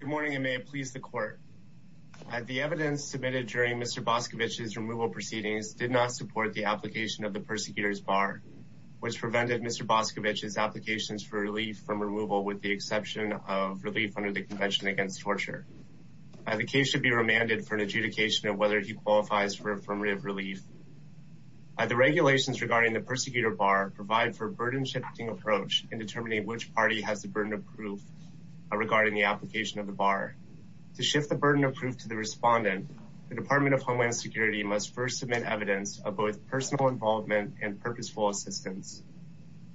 Good morning, and may it please the Court. The evidence submitted during Mr. Boskovic's removal proceedings did not support the application of the persecutor's bar, which prevented Mr. Boskovic's applications for relief from removal with the exception of relief under the Convention Against Torture. The case should be remanded for an adjudication of whether he qualifies for affirmative relief. The regulations regarding the persecutor bar provide for a burden-shifting approach in regarding the application of the bar. To shift the burden of proof to the respondent, the Department of Homeland Security must first submit evidence of both personal involvement and purposeful assistance.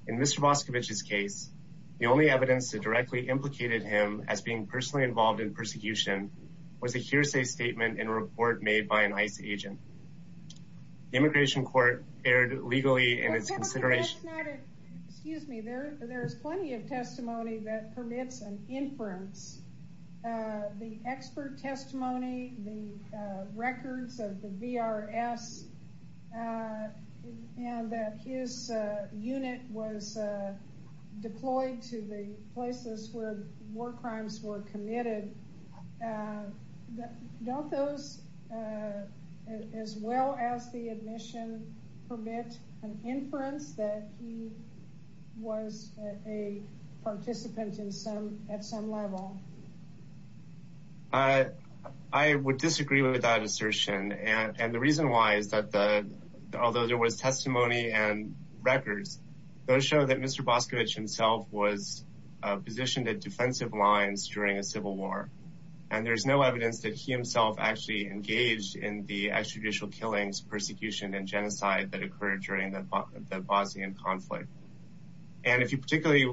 In Mr. Boskovic's case, the only evidence that directly implicated him as being personally involved in persecution was a hearsay statement in a report made by an ICE agent. The Immigration Court erred legally in its consideration. Excuse me, there is plenty of testimony that permits an inference. The expert testimony, the records of the VRS, and that his unit was deployed to the places where war crimes were committed, don't those, as well as the admission, permit an inference that he was a participant at some level? I would disagree with that assertion, and the reason why is that although there was testimony and records, those show that Mr. Boskovic himself was positioned at defensive lines during a civil war. And there's no evidence that he himself actually engaged in the extrajudicial killings, persecution, and genocide that occurred during the Bosnian conflict. And if you particularly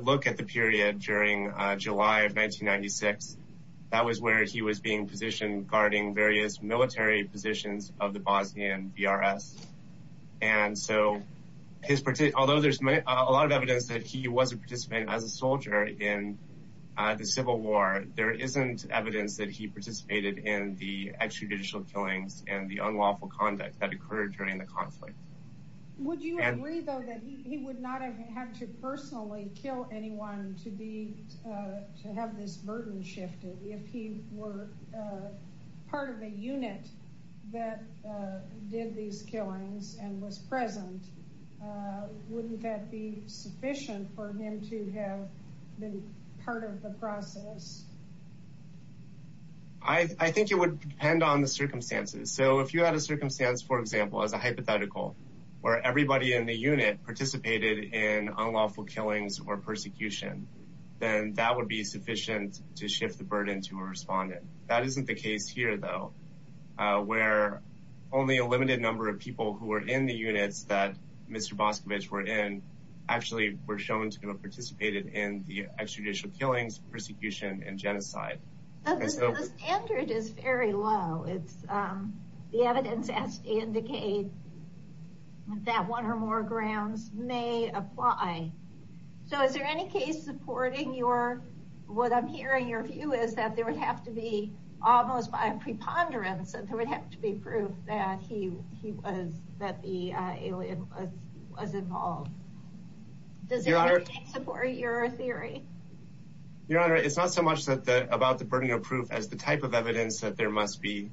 look at the period during July of 1996, that was where he was being positioned, guarding various military positions of the Bosnian VRS. And so, although there's a lot of evidence that he was a participant as a soldier in the civil war, there isn't evidence that he participated in the extrajudicial killings and the unlawful conduct that occurred during the conflict. Would you agree, though, that he would not have had to personally kill anyone to have this burden shifted? If he were part of a unit that did these killings and was present, wouldn't that be sufficient for him to have been part of the process? I think it would depend on the circumstances. So if you had a circumstance, for example, as a hypothetical, where everybody in the unit participated in unlawful killings or persecution, then that would be sufficient to shift the burden to a respondent. That isn't the case here, though, where only a limited number of people who were in the units that Mr. Boskovic were in actually were shown to have participated in the extrajudicial killings, persecution, and genocide. The standard is very low. The evidence has to indicate that one or more grounds may apply. So is there any case supporting what I'm hearing your view is that there would have to be almost by a preponderance that there would have to be proof that the alien was involved? Does it support your theory? Your Honor, it's not so much about the burden of proof as the type of evidence that there must be.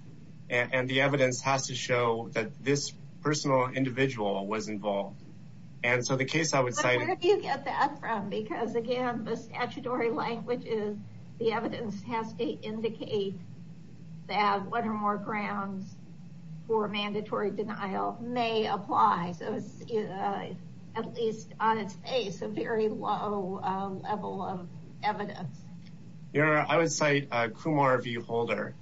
And the evidence has to show that this personal individual was involved. And so the case I would say... But where do you get that from? Because again, the statutory language is the evidence has to indicate that one or more grounds for mandatory denial may apply. So it's at least on its face a very low level of evidence. Your Honor, I would cite a Kumar v. Holder.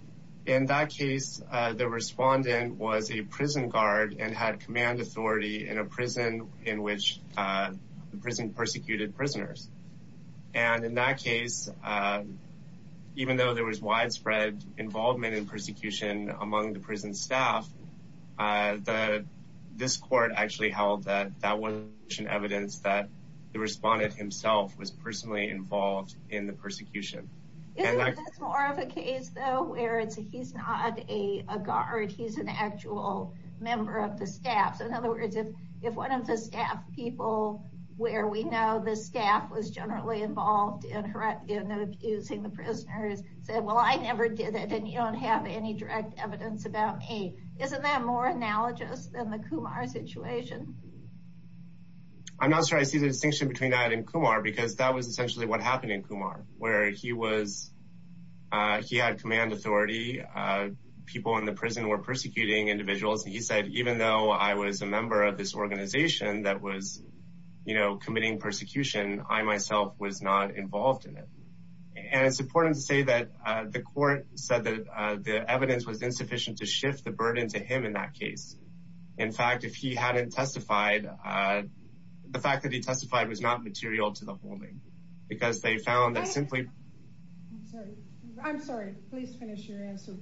In that case, the respondent was a prison guard and had command authority in a prison in which the prison persecuted prisoners. And in that case, even though there was widespread involvement in persecution among the prison staff, this court actually held that that was sufficient evidence that the respondent himself was personally involved in the persecution. Isn't this more of a case though where it's he's not a guard, he's an actual member of the staff? So in other words, if one of the staff people where we know the staff was generally involved in abusing the prisoners said, well, I never did it and you don't have any direct evidence about me, isn't that more analogous than the Kumar situation? I'm not sure I see the distinction between that and Kumar because that was essentially what happened in Kumar, where he was, he had command authority. People in the prison were persecuting individuals and he said, even though I was a member of this organization that was, you know, committing persecution, I myself was not involved in it. And it's important to say that the court said that the evidence was insufficient to shift the burden to him in that case. In fact, if he hadn't testified, the fact that he testified was not material to the whole thing because they found that simply, I'm sorry, please finish your answer.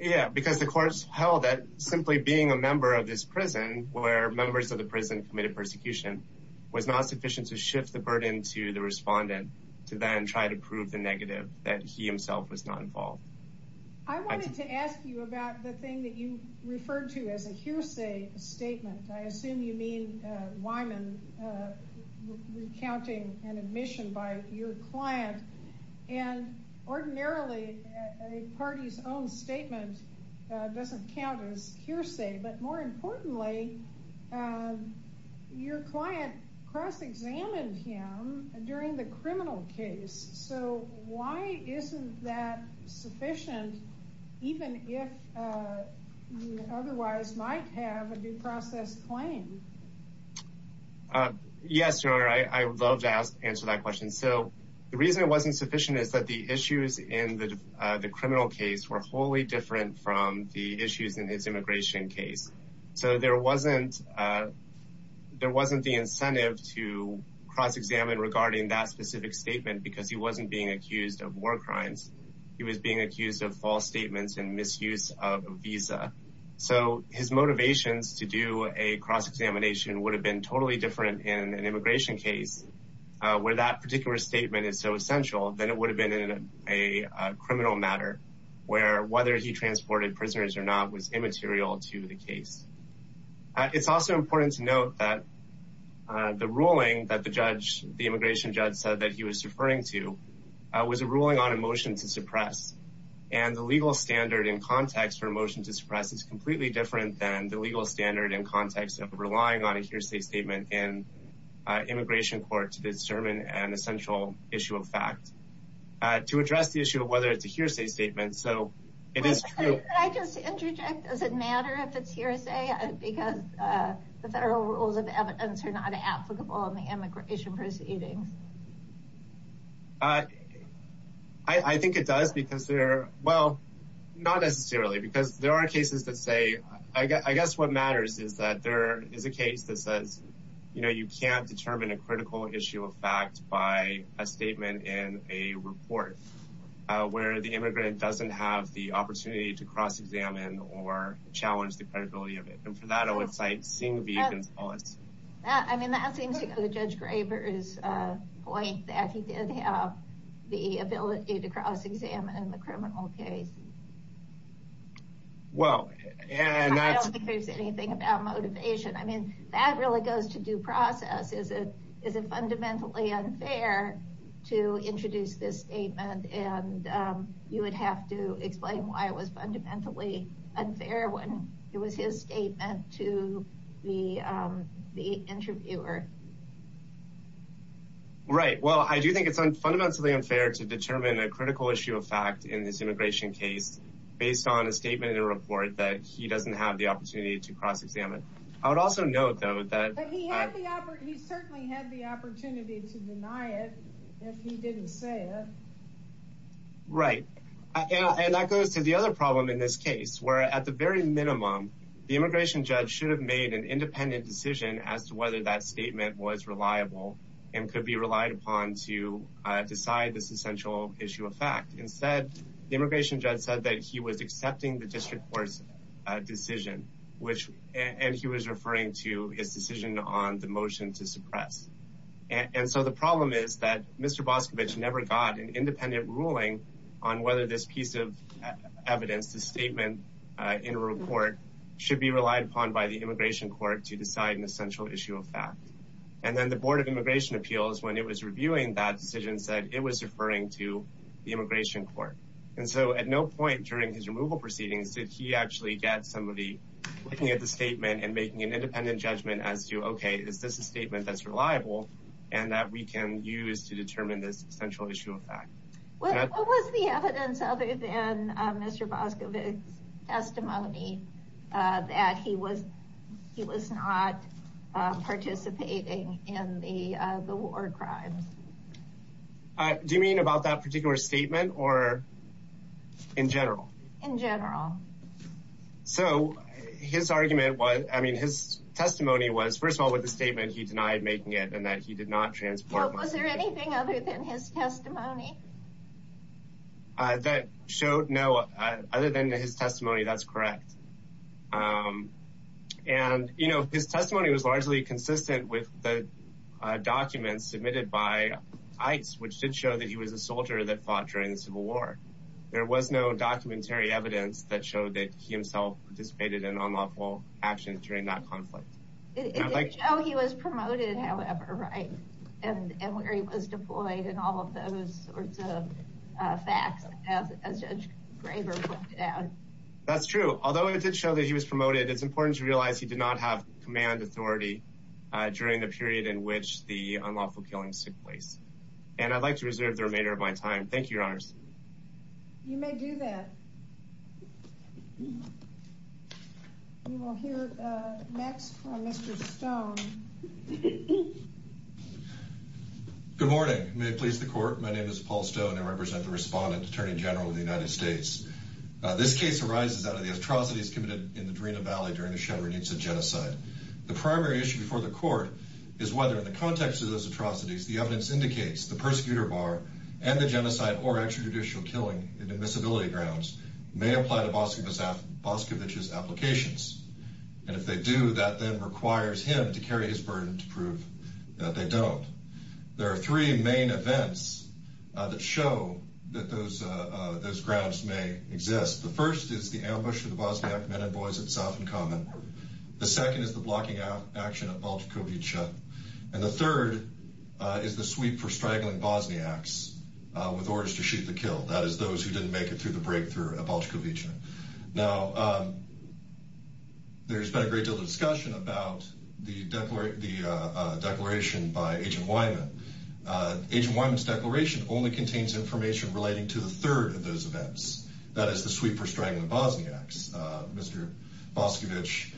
Yeah, because the courts held that simply being a member of this prison where members of the prison committed persecution was not sufficient to shift the burden to the respondent to then try to prove the negative that he himself was not involved. I wanted to ask you about the thing that you referred to as a hearsay statement. I assume you mean Wyman recounting an admission by your client and ordinarily a party's own statement doesn't count as hearsay, but more importantly, your client cross examined him during the criminal case. So why isn't that sufficient, even if you otherwise might have a due process claim? Yes, Your Honor, I would love to answer that question. So the reason it wasn't sufficient is that the issues in the criminal case were wholly different from the issues in his immigration case. So there wasn't the incentive to cross examine regarding that specific statement because he wasn't being accused of war crimes. He was being accused of false statements and misuse of a visa. So his motivations to do a cross examination would have been totally different in an immigration case where that particular statement is so essential than it would have been in a criminal matter where whether he transported prisoners or not was immaterial to the case. It's also important to note that the ruling that the judge, the immigration judge said that he was referring to was a ruling on a motion to suppress and the legal standard in context for a motion to suppress is completely different than the legal standard in context of relying on a hearsay statement in immigration court to discern an essential issue of fact. To address the issue of whether it's a hearsay statement. So it is true. Can I just interject? Does it matter if it's hearsay because the federal rules of evidence are not applicable in the immigration proceedings? I think it does because they're, well, not necessarily because there are cases that say, I guess what matters is that there is a case that says, you know, you can't determine a report where the immigrant doesn't have the opportunity to cross examine or challenge the credibility of it. And for that, I would cite Singh v. Gonzales. I mean, that seems to go to Judge Graber's point that he did have the ability to cross examine the criminal case. Well, and I don't think there's anything about motivation. I mean, that really goes to due process. Is it fundamentally unfair to introduce this statement and you would have to explain why it was fundamentally unfair when it was his statement to the interviewer? Right. Well, I do think it's fundamentally unfair to determine a critical issue of fact in this immigration case based on a statement in a report that he doesn't have the opportunity to cross examine. I would also note, though, that he certainly had the opportunity to deny it if he didn't say it. Right. And that goes to the other problem in this case, where at the very minimum, the immigration judge should have made an independent decision as to whether that statement was reliable and could be relied upon to decide this essential issue of fact. Instead, the immigration judge said that he was accepting the district court's decision, and he was referring to his decision on the motion to suppress. And so the problem is that Mr. Boscovich never got an independent ruling on whether this piece of evidence, the statement in a report, should be relied upon by the immigration court to decide an essential issue of fact. And then the Board of Immigration Appeals, when it was reviewing that decision, said it was referring to the immigration court. And so at no point during his removal proceedings did he actually get somebody looking at the statement and making an independent judgment as to, okay, is this a statement that's reliable and that we can use to determine this essential issue of fact. What was the evidence other than Mr. Boscovich's testimony that he was not participating in any of the war crimes? Do you mean about that particular statement or in general? In general. So his argument was, I mean, his testimony was, first of all, with the statement he denied making it and that he did not transport money. Now, was there anything other than his testimony? That showed no, other than his testimony, that's correct. And, you know, his testimony was largely consistent with the documents submitted by ICE, which did show that he was a soldier that fought during the Civil War. There was no documentary evidence that showed that he himself participated in unlawful actions during that conflict. It did show he was promoted, however, right? And where he was deployed and all of those sorts of facts, as Judge Graber pointed out. That's true. Although it did show that he was promoted, it's important to realize he did not have command authority during the period in which the unlawful killings took place. And I'd like to reserve the remainder of my time. Thank you, Your Honors. You may do that. We will hear next from Mr. Stone. Good morning. May it please the Court. My name is Paul Stone. I represent the Respondent Attorney General of the United States. This case arises out of the atrocities committed in the Drina Valley during the Shevardnitsa genocide. The primary issue before the Court is whether, in the context of those atrocities, the evidence indicates the persecutor bar and the genocide or extrajudicial killing in admissibility grounds may apply to Boscovich's applications. And if they do, that then requires him to carry his burden to prove that they don't. There are three main events that show that those grounds may exist. The first is the ambush of the Bosniak men and boys at South and Common. The second is the blocking action at Bolchkovice. And the third is the sweep for straggling Bosniaks with orders to shoot the kill, that is, those who didn't make it through the breakthrough at Bolchkovice. Now, there's been a great deal of discussion about the declaration by Agent Wyman. Agent Wyman's declaration only contains information relating to the third of those events, that is, the sweep for straggling the Bosniaks. Mr. Boscovich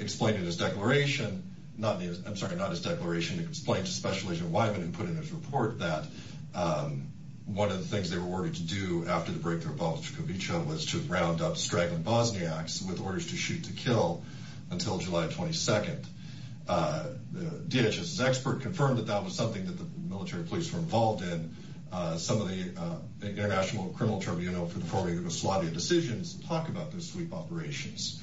explained in his declaration, I'm sorry, not his declaration, he explained to Special Agent Wyman, who put in his report, that one of the things they were ordered to do after the breakthrough at Bolchkovice was to round up straggling Bosniaks with orders to shoot to kill until July 22nd. The DHS's expert confirmed that that was something that the military police were involved in. Some of the International Criminal Tribunal for performing Yugoslavia decisions talk about those sweep operations.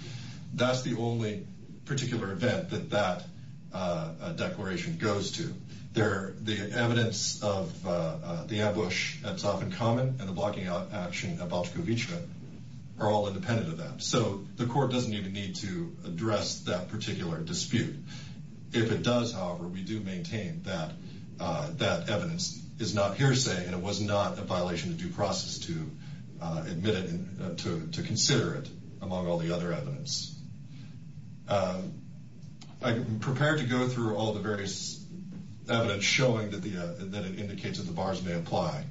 That's the only particular event that that declaration goes to. The evidence of the ambush that's often common and the blocking action at Bolchkovice are all independent of that. So the court doesn't even need to address that particular dispute. If it does, however, we do maintain that that evidence is not hearsay and it was not a violation of due process to admit it, to consider it, among all the other evidence. I'm prepared to go through all the various evidence showing that it indicates that the bars may apply.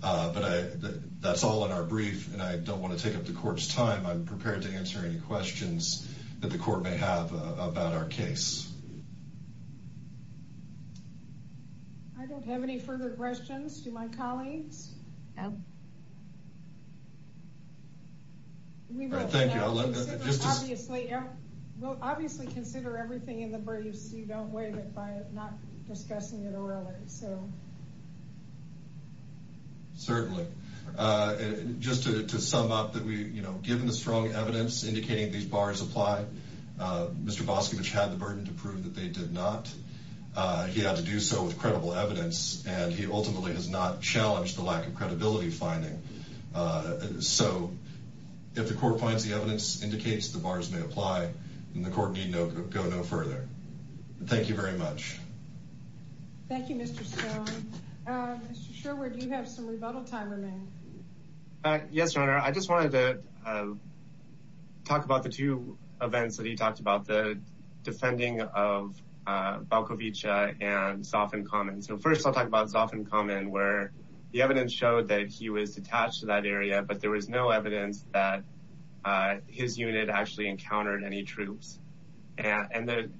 But that's all in our brief and I don't want to take up the court's time. I'm prepared to answer any questions that the court may have about our case. I don't have any further questions to my colleagues. We will obviously consider everything in the brief so you don't waive it by not discussing it orally. Certainly. Just to sum up, given the strong evidence indicating these bars apply, Mr. Boscovich had the burden to prove that they did not. He had to do so with credible evidence and he ultimately has not challenged the lack of credibility finding. So if the court finds the evidence indicates the bars may apply, then the court need go no further. Thank you very much. Thank you, Mr. Stone. Mr. Sherwood, you have some rebuttal time remaining. Yes, Your Honor. Your Honor, I just wanted to talk about the two events that he talked about. The defending of Balcovich and Zoff and Common. So first I'll talk about Zoff and Common where the evidence showed that he was detached in that area but there was no evidence that his unit actually encountered any troops. And the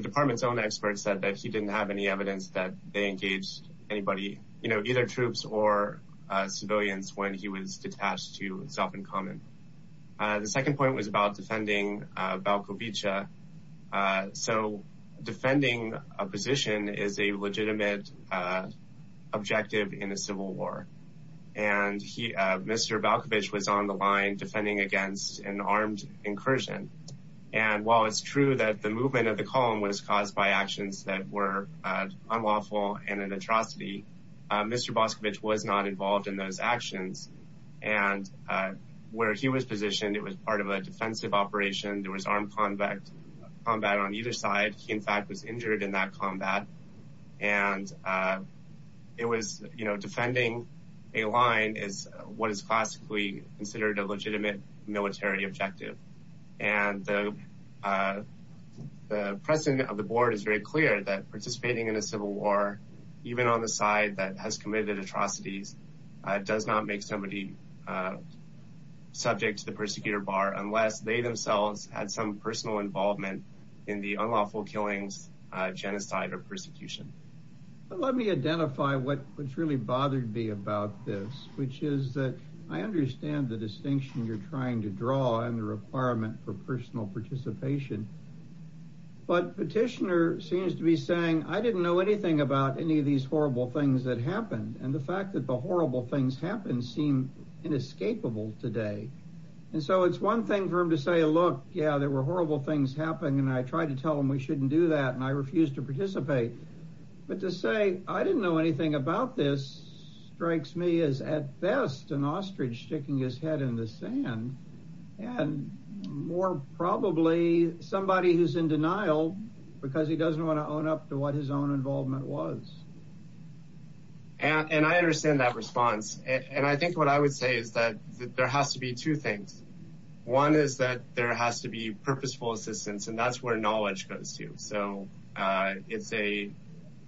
department's own experts said that he didn't have any evidence that they engaged either troops or civilians when he was detached to Zoff and Common. The second point was about defending Balcovich. So defending a position is a legitimate objective in a civil war. And Mr. Balcovich was on the line defending against an armed incursion. And while it's true that the movement of the column was caused by actions that were unlawful and an atrocity, Mr. Balcovich was not involved in those actions. And where he was positioned, it was part of a defensive operation. There was armed combat on either side. He, in fact, was injured in that combat. And it was, you know, defending a line is what is classically considered a legitimate military objective. And the president of the board is very clear that participating in a civil war, even on the side that has committed atrocities, does not make somebody subject to the persecutor bar unless they themselves had some personal involvement in the unlawful killings, genocide, or persecution. Let me identify what's really bothered me about this, which is that I understand the distinction you're trying to draw and the requirement for personal participation. But Petitioner seems to be saying, I didn't know anything about any of these horrible things that happened. And the fact that the horrible things happened seem inescapable today. And so it's one thing for him to say, look, yeah, there were horrible things happening, and I tried to tell them we shouldn't do that, and I refused to participate. But to say, I didn't know anything about this strikes me as, at best, an ostrich sticking his head in the sand, and more probably somebody who's in denial because he doesn't want to own up to what his own involvement was. And I understand that response. And I think what I would say is that there has to be two things. One is that there has to be purposeful assistance, and that's where knowledge goes to. So it's a,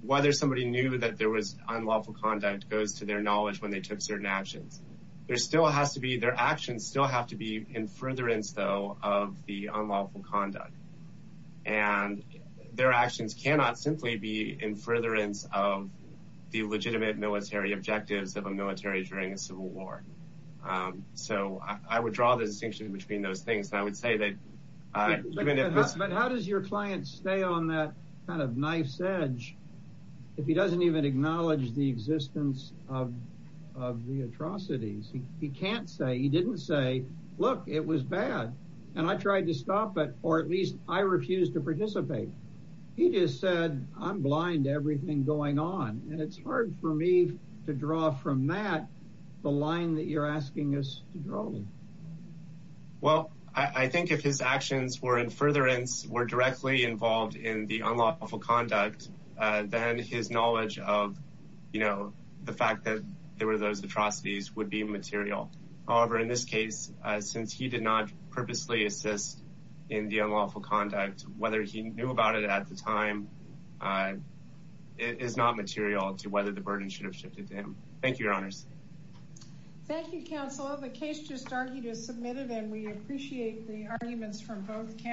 whether somebody knew that there was unlawful conduct goes to their knowledge when they took certain actions. There still has to be, their actions still have to be in furtherance, though, of the unlawful conduct. And their actions cannot simply be in furtherance of the legitimate military objectives of a military during a civil war. So I would draw the distinction between those things. And I would say that... But how does your client stay on that kind of knife's edge if he doesn't even acknowledge the existence of the atrocities? He can't say, he didn't say, look, it was bad. And I tried to stop it, or at least I refused to participate. He just said, I'm blind to everything going on. And it's hard for me to draw from that the line that you're asking us to draw. Well, I think if his actions were in furtherance, were directly involved in the unlawful conduct, then his knowledge of the fact that there were those atrocities would be material. However, in this case, since he did not purposely assist in the unlawful conduct, whether he knew about it at the time is not material to whether the burden should have shifted to him. Thank you, Your Honors. Thank you, Counselor. The case just argued is submitted, and we appreciate the arguments from both parties. Thank you, Counsel.